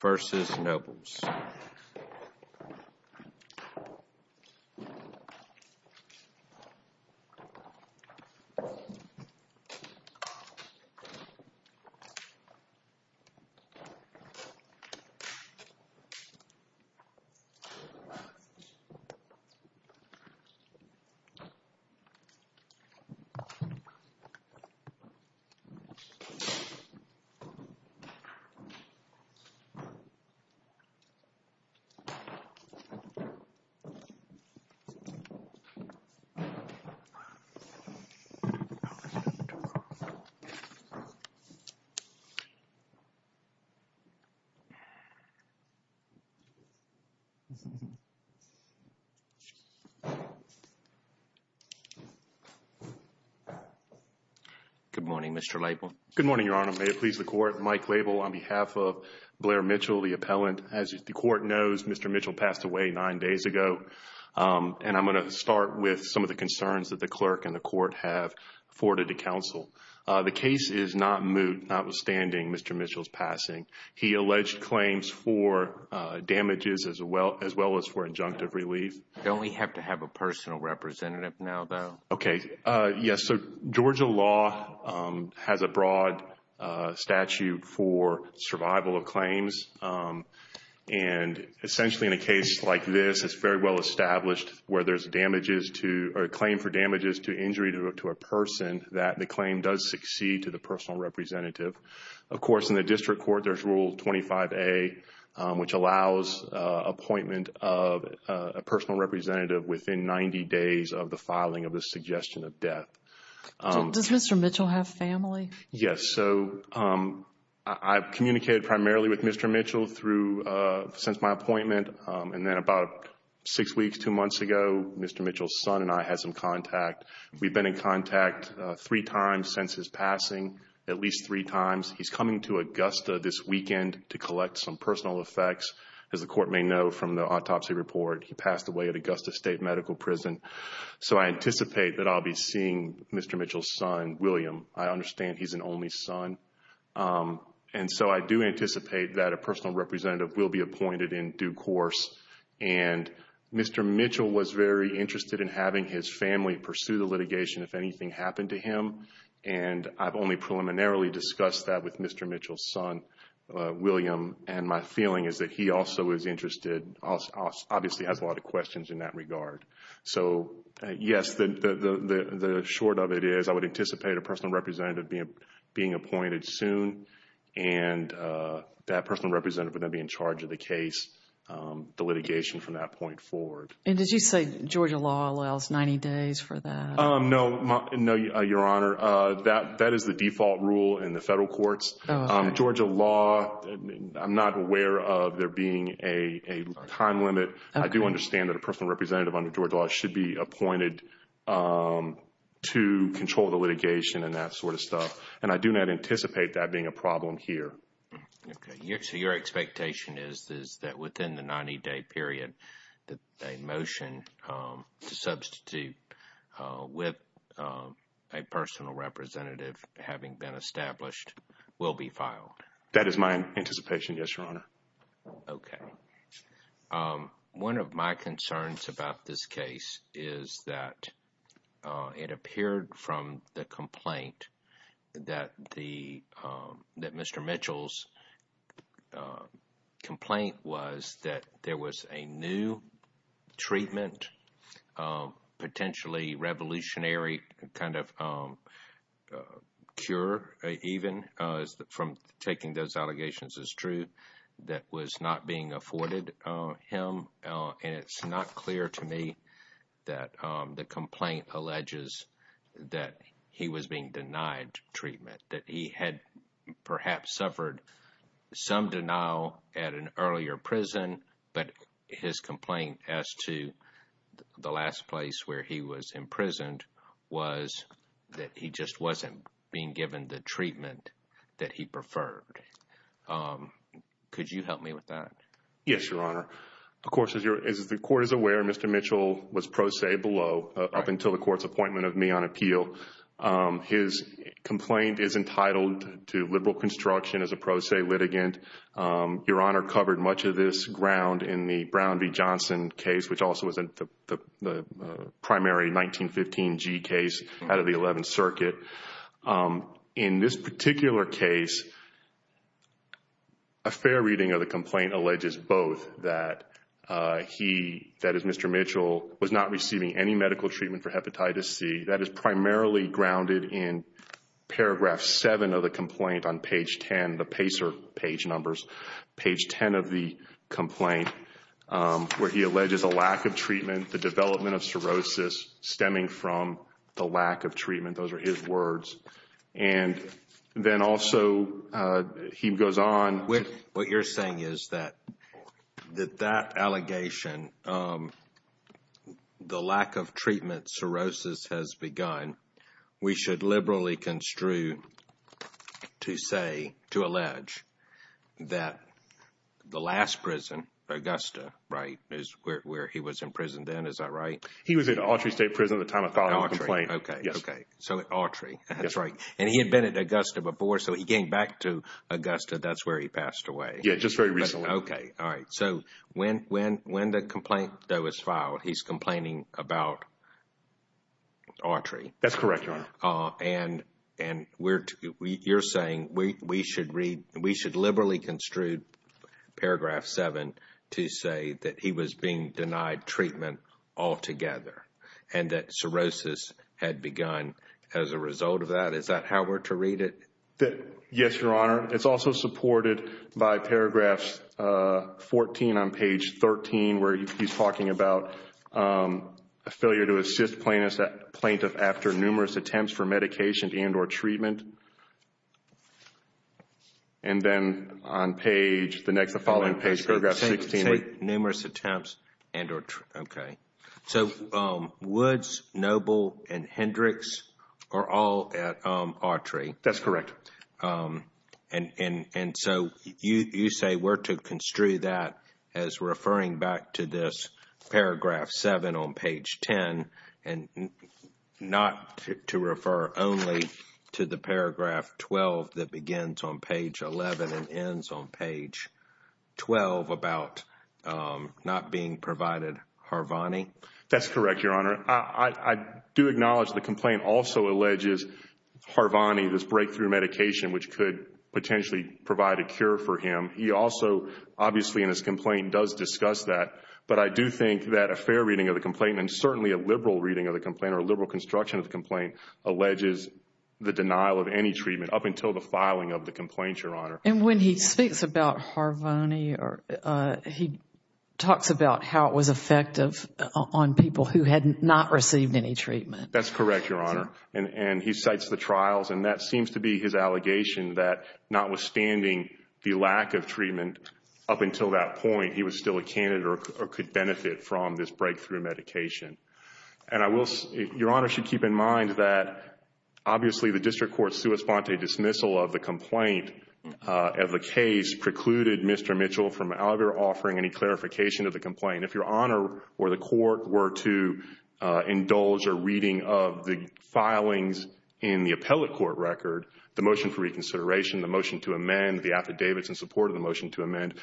v. Nobles Good morning, Mr. Label. Good morning, Your Honor. May it please the Court, Mike Label on behalf of Blair Mitchell, the appellant. As the Court knows, Mr. Mitchell passed away nine days ago. And I'm going to start with some of the concerns that the clerk and the Court have forwarded to counsel. The case is not moot, notwithstanding Mr. Mitchell's passing. He alleged claims for damages as well as for injunctive relief. Don't we have to have a personal representative now, though? Okay. Yes, so Georgia law has a broad statute for survival of claims. And essentially in a case like this, it's very well established where there's damages to or claim for damages to injury to a person that the claim does succeed to the personal representative. Of course, in the district court, there's Rule 25A, which allows appointment of a personal representative within 90 days of the filing of the suggestion of death. Does Mr. Mitchell have family? Yes. So I've communicated primarily with Mr. Mitchell since my appointment. And then about six weeks, two months ago, Mr. Mitchell's son and I had some contact. We've been in contact three times since his passing, at least three times. He's coming to Augusta this weekend to collect some personal effects. As the Court may know from the autopsy report, he passed away at Augusta State Medical Prison. So I anticipate that I'll be seeing Mr. Mitchell's son, William. I understand he's an only son. And so I do anticipate that a personal representative will be appointed in due course. And Mr. Mitchell was very interested in having his family pursue the litigation if anything happened to him. And I've only preliminarily discussed that with Mr. Mitchell's son, William. And my feeling is that he also is interested, obviously has a lot of questions in that regard. So yes, the short of it is I would anticipate a personal representative being appointed soon. And that personal representative would then be in charge of the case, the litigation from that point forward. And did you say Georgia law allows 90 days for that? No, Your Honor. That is the default rule in the federal courts. Georgia law, I'm not aware of there being a time limit. I do understand that a personal representative under Georgia law should be appointed to control the litigation and that sort of stuff. And I do not anticipate that being a problem here. So your expectation is that within the 90-day period, a motion to substitute with a personal representative having been established will be filed? That is my anticipation, yes, Your Honor. Okay. One of my concerns about this case is that it appeared from the complaint that Mr. Mitchell's complaint was that there was a new treatment, potentially revolutionary kind of cure even from taking those allegations is true, that was not being afforded him. And it's not clear to me that the complaint alleges that he was being denied treatment, that he had perhaps suffered some denial at an earlier prison, but his complaint as to the last place where he was imprisoned was that he just wasn't being given the treatment that he preferred. Could you help me with that? Yes, Your Honor. Of course, as the court is aware, Mr. Mitchell was pro se below up until the court's appointment of me on appeal. His complaint is entitled to liberal construction as a pro se litigant. Your Honor covered much of this ground in the Brown v. Johnson case, which also was the primary 1915G case out of the 11th Circuit. In this particular case, a fair reading of the complaint alleges both that he, that is Mr. Mitchell, was not receiving any medical treatment for hepatitis C. That is primarily grounded in paragraph 7 of the complaint on page 10, the PACER page numbers, page 10 of the complaint, where he alleges a lack of treatment, the development of cirrhosis stemming from the lack of treatment. Those are his words. And then also he goes on. What you're saying is that that allegation, the lack of treatment, cirrhosis has begun. We should liberally construe to say, to allege that the last prison, Augusta, right, is where he was imprisoned then. Is that right? He was at Autry State Prison at the time of filing the complaint. At Autry. Yes. Okay. So at Autry. That's right. And he had been at Augusta before. So he came back to Augusta. That's where he passed away. Yes, just very recently. Okay. All right. So when the complaint that was filed, he's complaining about Autry. That's correct, Your Honor. And you're saying we should read, we should liberally construe paragraph 7 to say that he was being denied treatment altogether and that cirrhosis had begun as a result of that. Is that how we're to read it? Yes, Your Honor. It's also supported by paragraph 14 on page 13 where he's talking about a failure to assist plaintiff after numerous attempts for medication and or treatment. And then on page, the following page, paragraph 16. Numerous attempts and or, okay. So Woods, Noble, and Hendricks are all at Autry. That's correct. And so you say we're to construe that as referring back to this paragraph 7 on page 10 and not to refer only to the paragraph 12 that begins on page 11 and ends on page 12 about not being provided Harvani? That's correct, Your Honor. I do acknowledge the complaint also alleges Harvani, this breakthrough medication which could potentially provide a cure for him. He also, obviously in his complaint, does discuss that. But I do think that a fair reading of the complaint and certainly a liberal reading of the complaint or a liberal construction of the complaint alleges the denial of any treatment up until the filing of the complaint, Your Honor. And when he speaks about Harvani, he talks about how it was effective on people who had not received any treatment. That's correct, Your Honor. And he cites the trials and that seems to be his allegation that notwithstanding the lack of treatment up until that point, he was still a candidate or could benefit from this breakthrough medication. And Your Honor should keep in mind that obviously the district court's sua sponte dismissal of the complaint of the case precluded Mr. Mitchell from either offering any clarification of the complaint. If Your Honor or the court were to indulge a reading of the filings in the appellate court record, the motion for reconsideration, the motion to amend, the affidavits in support of the motion to amend,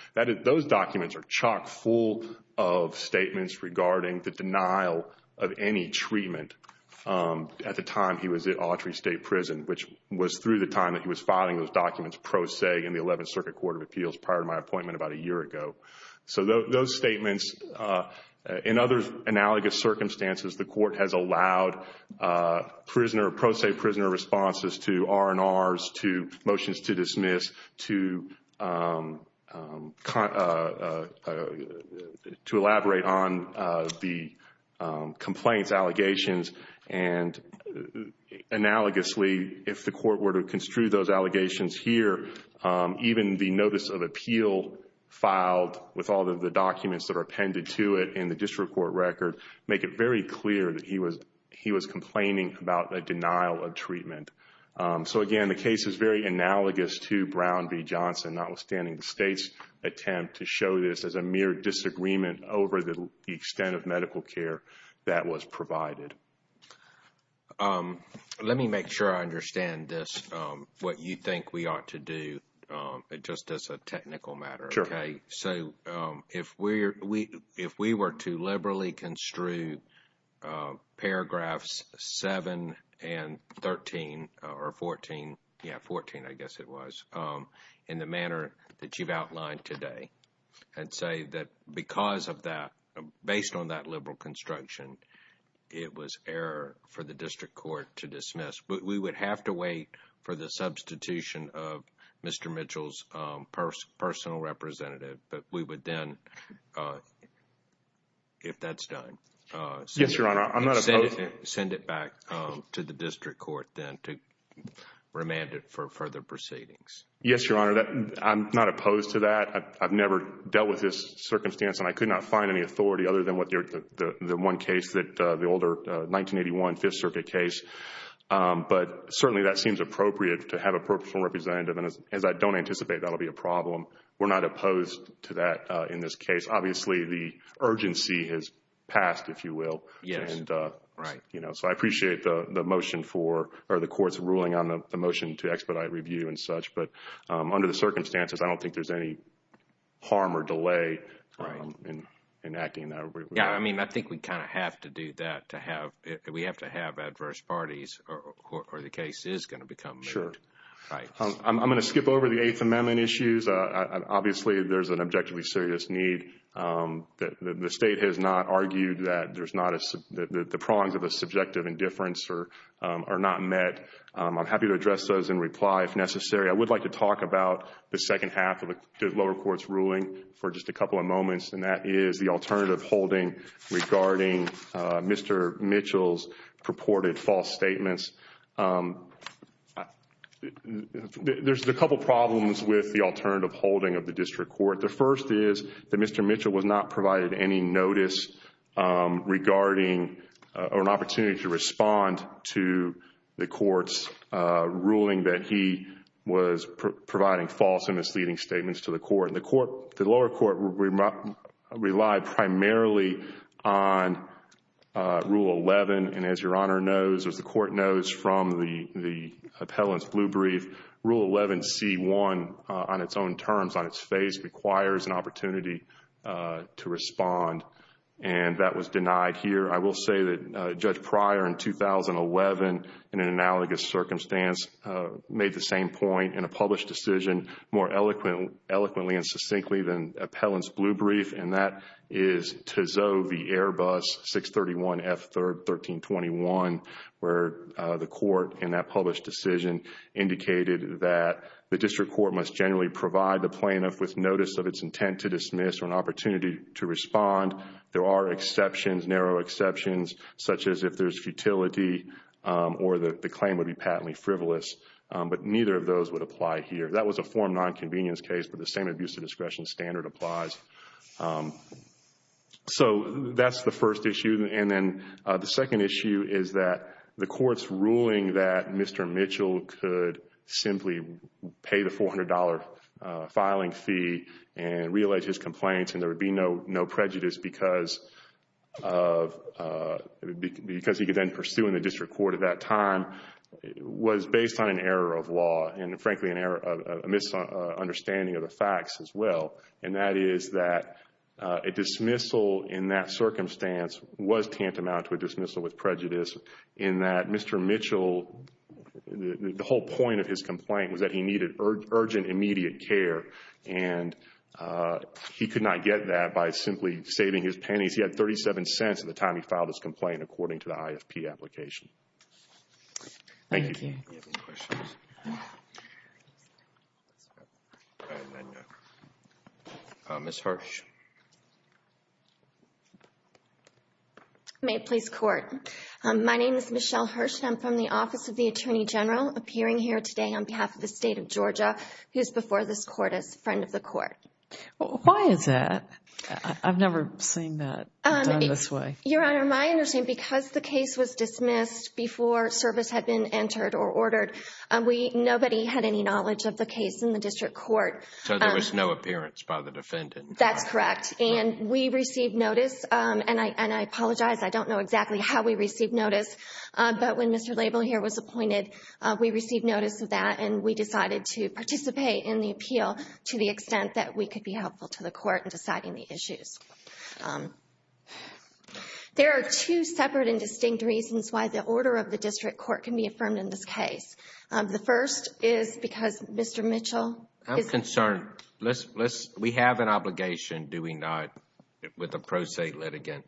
those documents are chock full of statements regarding the denial of any treatment at the time he was at Autry State Prison, which was through the time that he was filing those documents pro se in the 11th Circuit Court of Appeals prior to my appointment about a year ago. So those statements, in other analogous circumstances, the court has allowed pro se prisoner responses to R&Rs, to motions to dismiss, to elaborate on the complaints allegations. And analogously, if the court were to construe those allegations here, even the notice of appeal filed with all of the documents that are appended to it in the district court record, make it very clear that he was complaining about a denial of treatment. So again, the case is very analogous to Brown v. Johnson, notwithstanding the state's attempt to show this as a mere disagreement over the extent of medical care that was provided. Let me make sure I understand this, what you think we ought to do, just as a technical matter. Okay, so if we were to liberally construe paragraphs 7 and 13, or 14, yeah, 14 I guess it was, in the manner that you've outlined today, I'd say that because of that, based on that liberal construction, it was error for the district court to dismiss. But we would have to wait for the substitution of Mr. Mitchell's personal representative. But we would then, if that's done, send it back to the district court then to remand it for further proceedings. Yes, Your Honor. I'm not opposed to that. I've never dealt with this circumstance and I could not find any authority other than the one case, the older 1981 Fifth Circuit case. But certainly that seems appropriate to have a personal representative. And as I don't anticipate that will be a problem, we're not opposed to that in this case. Obviously, the urgency has passed, if you will. Yes, right. So I appreciate the motion for, or the court's ruling on the motion to expedite review and such. But under the circumstances, I don't think there's any harm or delay in acting that way. Yeah, I mean, I think we kind of have to do that to have, we have to have adverse parties or the case is going to become made. Sure. I'm going to skip over the Eighth Amendment issues. Obviously, there's an objectively serious need. The State has not argued that there's not a, the prongs of a subjective indifference are not met. I'm happy to address those in reply if necessary. I would like to talk about the second half of the lower court's ruling for just a couple of moments. And that is the alternative holding regarding Mr. Mitchell's purported false statements. There's a couple problems with the alternative holding of the district court. The first is that Mr. Mitchell was not provided any notice regarding, or an opportunity to respond to the court's ruling that he was providing false and misleading statements to the court. The lower court relied primarily on Rule 11. And as Your Honor knows, as the court knows from the appellant's blue brief, Rule 11c1 on its own terms, on its face, requires an opportunity to respond. And that was denied here. I will say that Judge Pryor in 2011, in an analogous circumstance, made the same point in a published decision more eloquently and succinctly than the appellant's blue brief. And that is Tissot v. Airbus 631F1321, where the court in that published decision indicated that the district court must generally provide the plaintiff with notice of its intent to dismiss or an opportunity to respond. There are exceptions, narrow exceptions, such as if there's futility or the claim would be patently frivolous. But neither of those would apply here. That was a form nonconvenience case, but the same abuse of discretion standard applies. So that's the first issue. And then the second issue is that the court's ruling that Mr. Mitchell could simply pay the $400 filing fee and re-allege his complaints and there would be no prejudice because he could then pursue in the district court at that time, was based on an error of law and, frankly, a misunderstanding of the facts as well. And that is that a dismissal in that circumstance was tantamount to a dismissal with prejudice in that Mr. Mitchell, the whole point of his complaint was that he needed urgent, immediate care. And he could not get that by simply saving his pennies. He had 37 cents at the time he filed his complaint, according to the IFP application. Thank you. Ms. Hirsch. May it please court. My name is Michelle Hirsch. I'm from the Office of the Attorney General, appearing here today on behalf of the state of Georgia, who is before this court as a friend of the court. Why is that? I've never seen that done this way. Your Honor, my understanding, because the case was dismissed before service had been entered or ordered, nobody had any knowledge of the case in the district court. So there was no appearance by the defendant. That's correct. And we received notice. And I apologize. I don't know exactly how we received notice. But when Mr. Label here was appointed, we received notice of that. And we decided to participate in the appeal to the extent that we could be helpful to the court in deciding the issues. There are two separate and distinct reasons why the order of the district court can be affirmed in this case. The first is because Mr. Mitchell is concerned. I'm concerned. We have an obligation, do we not, with the pro se litigant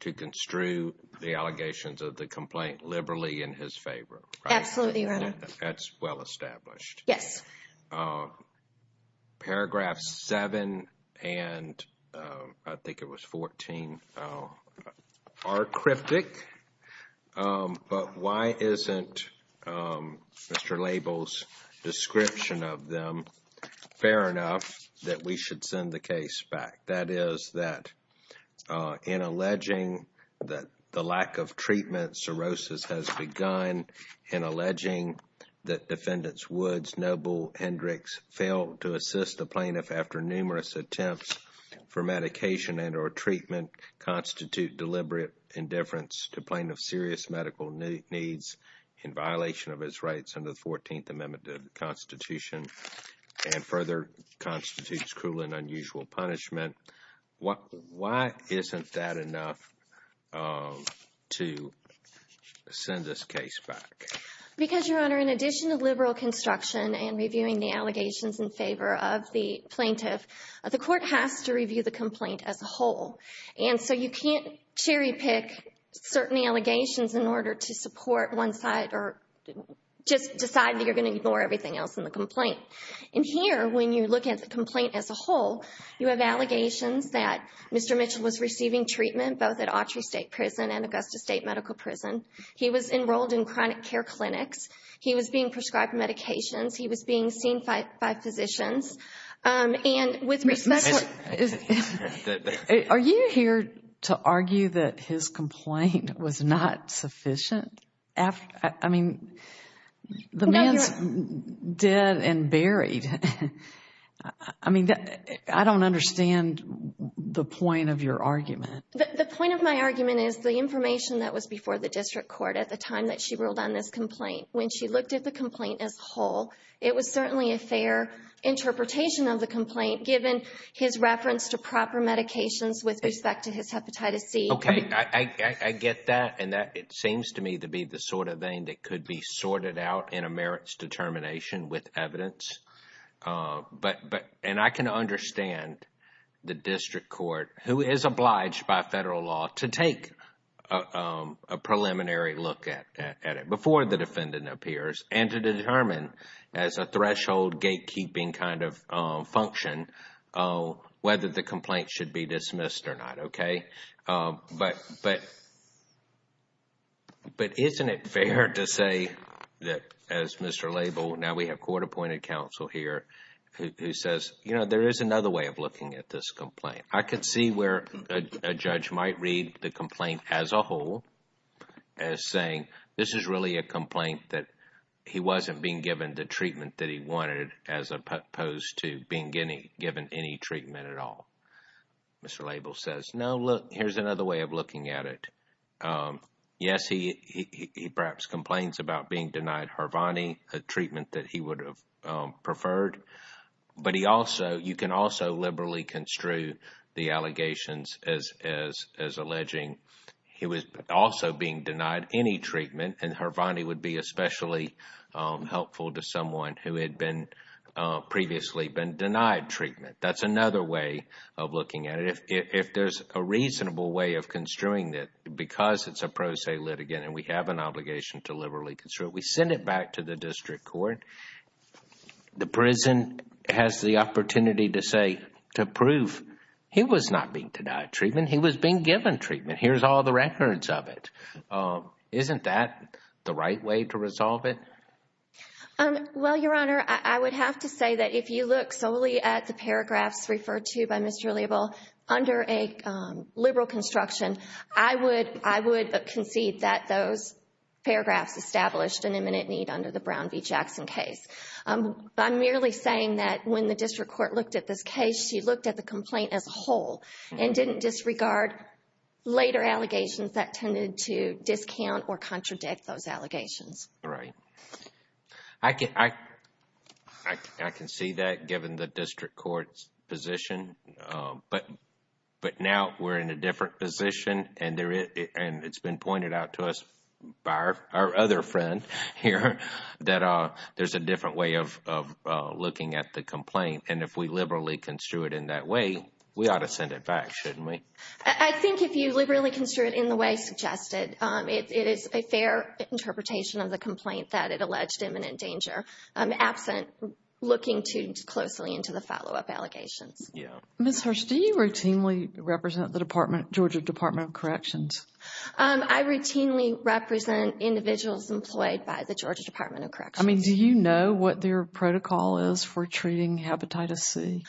to construe the allegations of the complaint liberally in his favor. Absolutely, Your Honor. That's well established. Yes. Paragraphs 7 and I think it was 14 are cryptic. But why isn't Mr. Label's description of them fair enough that we should send the case back? That is that in alleging that the lack of treatment cirrhosis has begun, in alleging that Defendant Woods Noble Hendricks failed to assist the plaintiff after numerous attempts for medication and or treatment constitute deliberate indifference to plaintiff's serious medical needs in violation of his rights under the 14th Amendment of the Constitution and further constitutes cruel and unusual punishment. Why isn't that enough to send this case back? Because, Your Honor, in addition to liberal construction and reviewing the allegations in favor of the plaintiff, the court has to review the complaint as a whole. And so you can't cherry pick certain allegations in order to support one side or just decide that you're going to ignore everything else in the complaint. And here, when you look at the complaint as a whole, you have allegations that Mr. Mitchell was receiving treatment both at Autry State Prison and Augusta State Medical Prison. He was enrolled in chronic care clinics. He was being prescribed medications. He was being seen by physicians. Are you here to argue that his complaint was not sufficient? I mean, the man's dead and buried. I mean, I don't understand the point of your argument. The point of my argument is the information that was before the district court at the time that she ruled on this complaint. When she looked at the complaint as a whole, it was certainly a fair interpretation of the complaint, given his reference to proper medications with respect to his hepatitis C. Okay, I get that. And it seems to me to be the sort of thing that could be sorted out in a merits determination with evidence. And I can understand the district court, who is obliged by federal law to take a preliminary look at it before the defendant appears and to determine as a threshold gatekeeping kind of function whether the complaint should be dismissed or not, okay? But isn't it fair to say that as Mr. Label, now we have court-appointed counsel here, who says, you know, there is another way of looking at this complaint. I could see where a judge might read the complaint as a whole as saying, this is really a complaint that he wasn't being given the treatment that he wanted as opposed to being given any treatment at all. Mr. Label says, no, look, here's another way of looking at it. Yes, he perhaps complains about being denied Hervonni, a treatment that he would have preferred. But you can also liberally construe the allegations as alleging he was also being denied any treatment, and Hervonni would be especially helpful to someone who had previously been denied treatment. That's another way of looking at it. If there's a reasonable way of construing it, because it's a pro se litigant and we have an obligation to liberally construe it, we send it back to the district court. The prison has the opportunity to say, to prove he was not being denied treatment. He was being given treatment. Here's all the records of it. Isn't that the right way to resolve it? Well, Your Honor, I would have to say that if you look solely at the paragraphs referred to by Mr. Label under a liberal construction, I would concede that those paragraphs established an imminent need under the Brown v. Jackson case. I'm merely saying that when the district court looked at this case, she looked at the complaint as a whole and didn't disregard later allegations that tended to discount or contradict those allegations. Right. I can see that given the district court's position, but now we're in a different position, and it's been pointed out to us by our other friend here that there's a different way of looking at the complaint. And if we liberally construe it in that way, we ought to send it back, shouldn't we? I think if you liberally construe it in the way suggested, it is a fair interpretation of the complaint that it alleged imminent danger, absent looking too closely into the follow-up allegations. Yeah. Ms. Hirsch, do you routinely represent the Georgia Department of Corrections? I routinely represent individuals employed by the Georgia Department of Corrections. I mean, do you know what their protocol is for treating hepatitis C?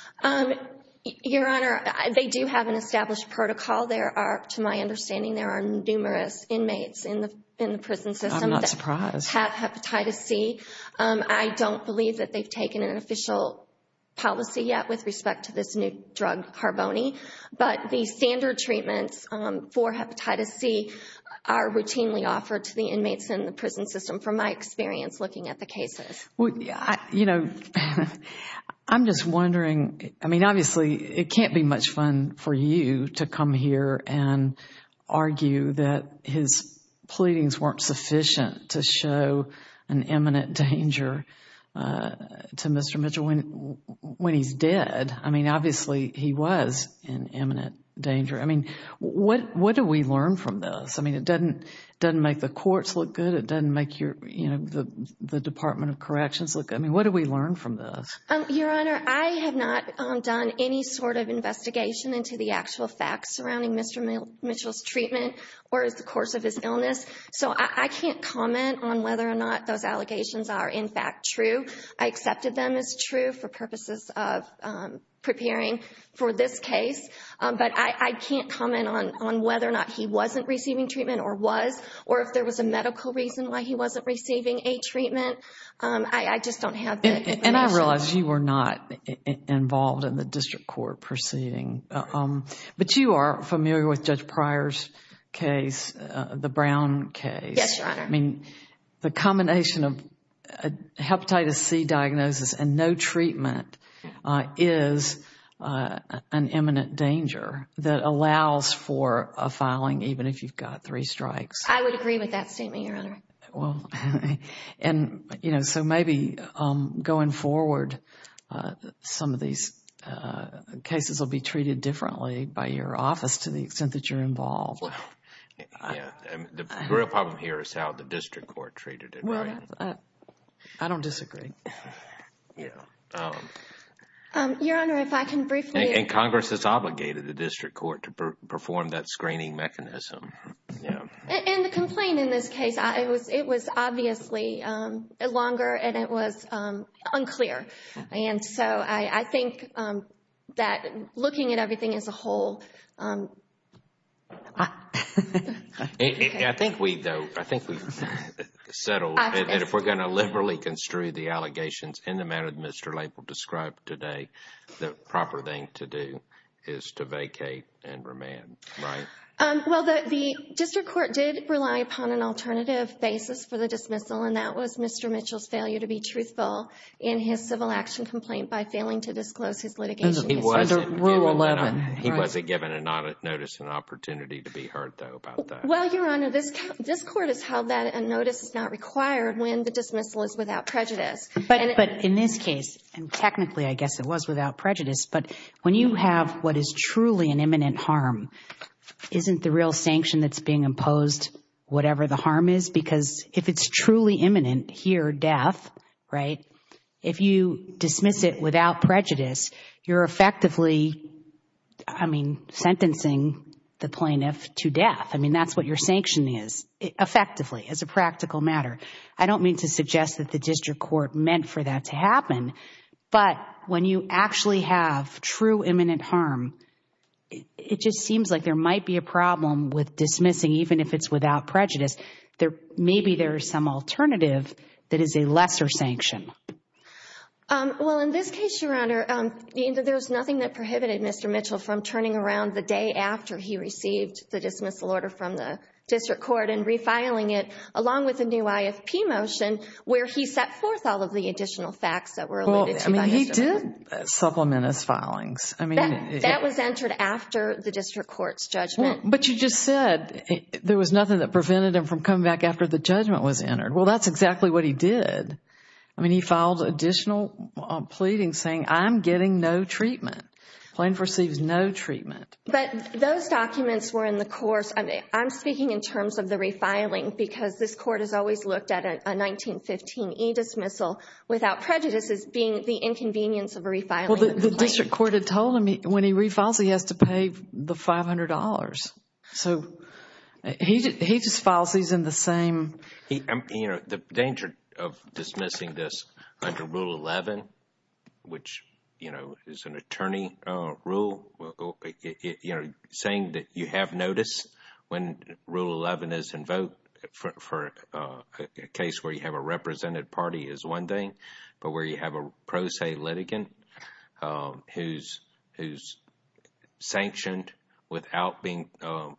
Your Honor, they do have an established protocol. There are, to my understanding, there are numerous inmates in the prison system that have hepatitis C. I'm not surprised. I don't believe that they've taken an official policy yet with respect to this new drug, Harboni. But the standard treatments for hepatitis C are routinely offered to the inmates in the prison system, from my experience looking at the cases. You know, I'm just wondering, I mean, obviously, it can't be much fun for you to come here and argue that his pleadings weren't sufficient to show an imminent danger to Mr. Mitchell when he's dead. I mean, obviously, he was in imminent danger. I mean, what do we learn from this? I mean, it doesn't make the courts look good. It doesn't make the Department of Corrections look good. I mean, what do we learn from this? Your Honor, I have not done any sort of investigation into the actual facts surrounding Mr. Mitchell's treatment or the course of his illness, so I can't comment on whether or not those allegations are, in fact, true. I accepted them as true for purposes of preparing for this case, but I can't comment on whether or not he wasn't receiving treatment or was, or if there was a medical reason why he wasn't receiving a treatment. I just don't have the information. And I realize you were not involved in the district court proceeding, but you are familiar with Judge Pryor's case, the Brown case. Yes, Your Honor. I mean, the combination of hepatitis C diagnosis and no treatment is an imminent danger that allows for a filing even if you've got three strikes. I would agree with that statement, Your Honor. And, you know, so maybe going forward, some of these cases will be treated differently by your office to the extent that you're involved. The real problem here is how the district court treated it, right? I don't disagree. Your Honor, if I can briefly... And Congress has obligated the district court to perform that screening mechanism. And the complaint in this case, it was obviously longer and it was unclear. And so I think that looking at everything as a whole... I think we've settled that if we're going to liberally construe the allegations in the manner that Mr. Lapel described today, the proper thing to do is to vacate and remand, right? Well, the district court did rely upon an alternative basis for the dismissal, and that was Mr. Mitchell's failure to be truthful in his civil action complaint by failing to disclose his litigation history. He wasn't given notice and opportunity to be heard, though, about that. Well, Your Honor, this court has held that a notice is not required when the dismissal is without prejudice. But in this case, and technically I guess it was without prejudice, but when you have what is truly an imminent harm, isn't the real sanction that's being imposed whatever the harm is? Because if it's truly imminent, here, death, right? If you dismiss it without prejudice, you're effectively, I mean, sentencing the plaintiff to death. I mean, that's what your sanction is, effectively, as a practical matter. I don't mean to suggest that the district court meant for that to happen, but when you actually have true imminent harm, it just seems like there might be a problem with dismissing even if it's without prejudice. Maybe there is some alternative that is a lesser sanction. Well, in this case, Your Honor, there's nothing that prohibited Mr. Mitchell from turning around the day after he received the dismissal order from the district court and refiling it along with the new IFP motion where he set forth all of the additional facts that were alluded to by Mr. Mitchell. Well, I mean, he did supplement his filings. That was entered after the district court's judgment. But you just said there was nothing that prevented him from coming back after the judgment was entered. Well, that's exactly what he did. I mean, he filed additional pleadings saying, I'm getting no treatment. Plaintiff receives no treatment. But those documents were in the course. I'm speaking in terms of the refiling because this court has always looked at a 1915 E dismissal without prejudice as being the inconvenience of a refiling. Well, the district court had told him when he refiles, he has to pay the $500. So, he just files these in the same. You know, the danger of dismissing this under Rule 11, which, you know, is an attorney rule, you know, saying that you have notice when Rule 11 is invoked for a case where you have a represented party is one thing, but where you have a pro se litigant who's sanctioned without being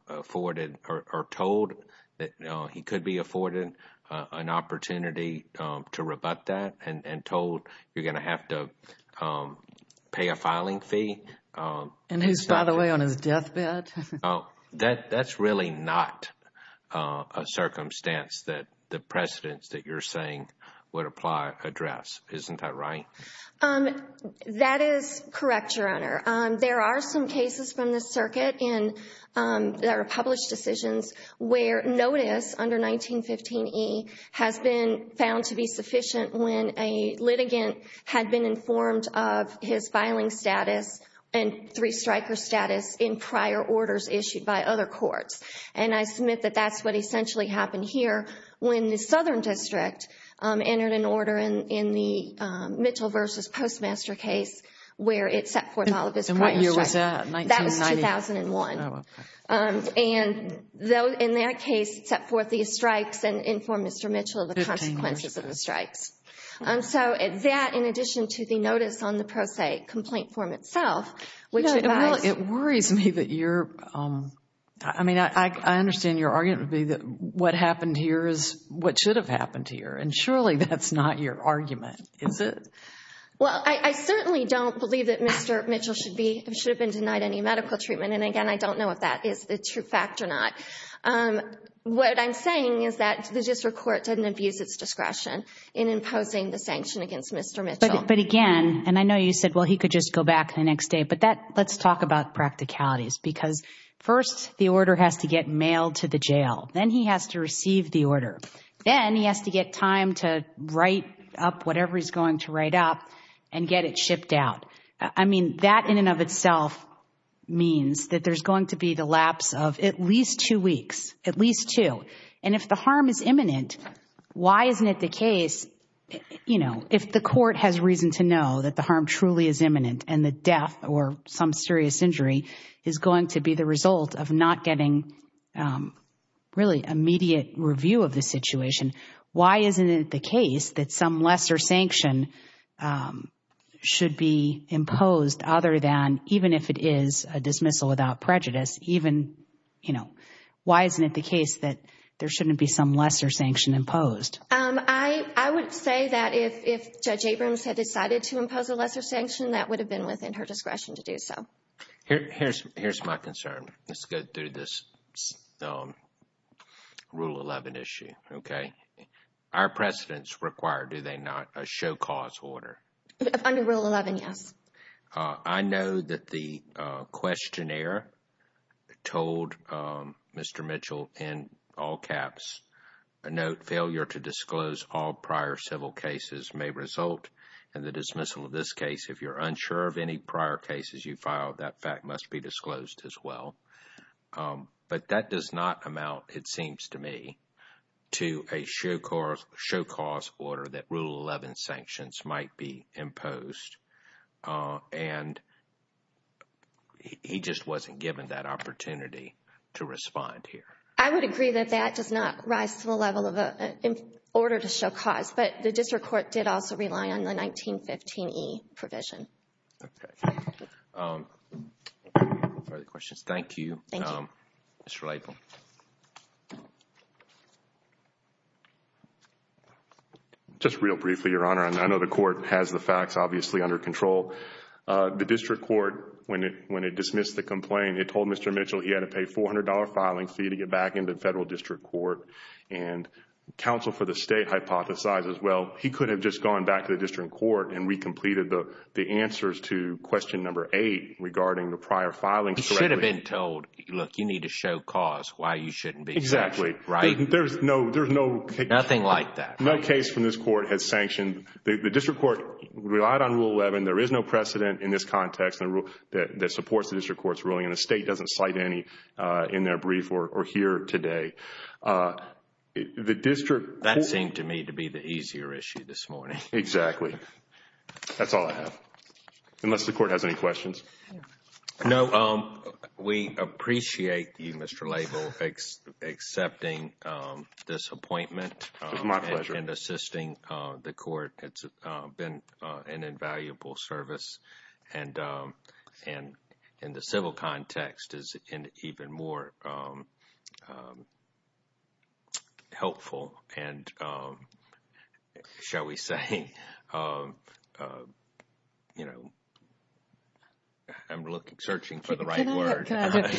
afforded or told that he could be afforded an opportunity to rebut that and told you're going to have to pay a filing fee. And he's filed away on his deathbed? That's really not a circumstance that the precedence that you're saying would apply address. Isn't that right? That is correct, Your Honor. There are some cases from the circuit that are published decisions where notice under 1915 E has been found to be sufficient when a litigant had been informed of his filing status and three striker status in prior orders issued by other courts. And I submit that that's what essentially happened here when the Southern District entered an order in the Mitchell v. Postmaster case where it set forth all of his prior strikes. And what year was that? That was 2001. Oh, okay. And in that case, it set forth these strikes and informed Mr. Mitchell of the consequences of the strikes. Fifteen years ago. And so that, in addition to the notice on the pro se complaint form itself, which implies... It worries me that you're... I mean, I understand your argument would be that what happened here is what should have happened here. And surely that's not your argument, is it? Well, I certainly don't believe that Mr. Mitchell should have been denied any medical treatment. And, again, I don't know if that is the true fact or not. What I'm saying is that the district court didn't abuse its discretion in imposing the sanction against Mr. Mitchell. But, again, and I know you said, well, he could just go back the next day, but let's talk about practicalities. Because, first, the order has to get mailed to the jail. Then he has to receive the order. Then he has to get time to write up whatever he's going to write up and get it shipped out. I mean, that in and of itself means that there's going to be the lapse of at least two weeks. At least two. And if the harm is imminent, why isn't it the case, you know, and the death or some serious injury is going to be the result of not getting really immediate review of the situation, why isn't it the case that some lesser sanction should be imposed other than, even if it is a dismissal without prejudice, even, you know, why isn't it the case that there shouldn't be some lesser sanction imposed? I would say that if Judge Abrams had decided to impose a lesser sanction, that would have been within her discretion to do so. Here's my concern. Let's go through this Rule 11 issue, okay? Are precedents required, do they not, a show cause order? Under Rule 11, yes. I know that the questionnaire told Mr. Mitchell, in all caps, a note, failure to disclose all prior civil cases may result in the dismissal of this case. If you're unsure of any prior cases you filed, that fact must be disclosed as well. But that does not amount, it seems to me, to a show cause order that Rule 11 sanctions might be imposed. And he just wasn't given that opportunity to respond here. I would agree that that does not rise to the level of an order to show cause, but the district court did also rely on the 1915E provision. Okay. Further questions? Thank you. Thank you. Ms. Riley. Just real briefly, Your Honor, I know the court has the facts, obviously, under control. The district court, when it dismissed the complaint, it told Mr. Mitchell he had to pay a $400 filing fee to get back into the federal district court. And counsel for the state hypothesizes, well, he could have just gone back to the district court and re-completed the answers to question number eight regarding the prior filing. He should have been told, look, you need to show cause, why you shouldn't be sanctioned. Exactly. Right? There's no case. Nothing like that. No case from this court has sanctioned. The district court relied on Rule 11. There is no precedent in this context that supports the district court's ruling, and the state doesn't cite any in their brief or here today. The district court. That seemed to me to be the easier issue this morning. Exactly. That's all I have. Unless the court has any questions. No. We appreciate you, Mr. Label, accepting this appointment. It's my pleasure. And assisting the court. It's been an invaluable service. And the civil context is even more helpful. And shall we say, you know, I'm searching for the right word. I'm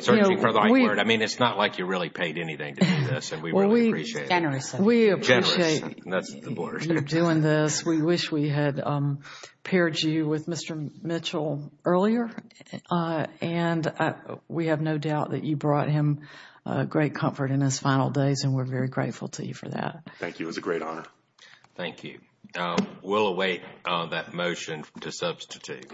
searching for the right word. I mean, it's not like you really paid anything to do this, and we really appreciate it. Generously. Generously. That's the word. You're doing this. We wish we had paired you with Mr. Mitchell earlier. And we have no doubt that you brought him great comfort in his final days, and we're very grateful to you for that. Thank you. It was a great honor. Thank you. We'll await that motion to substitute.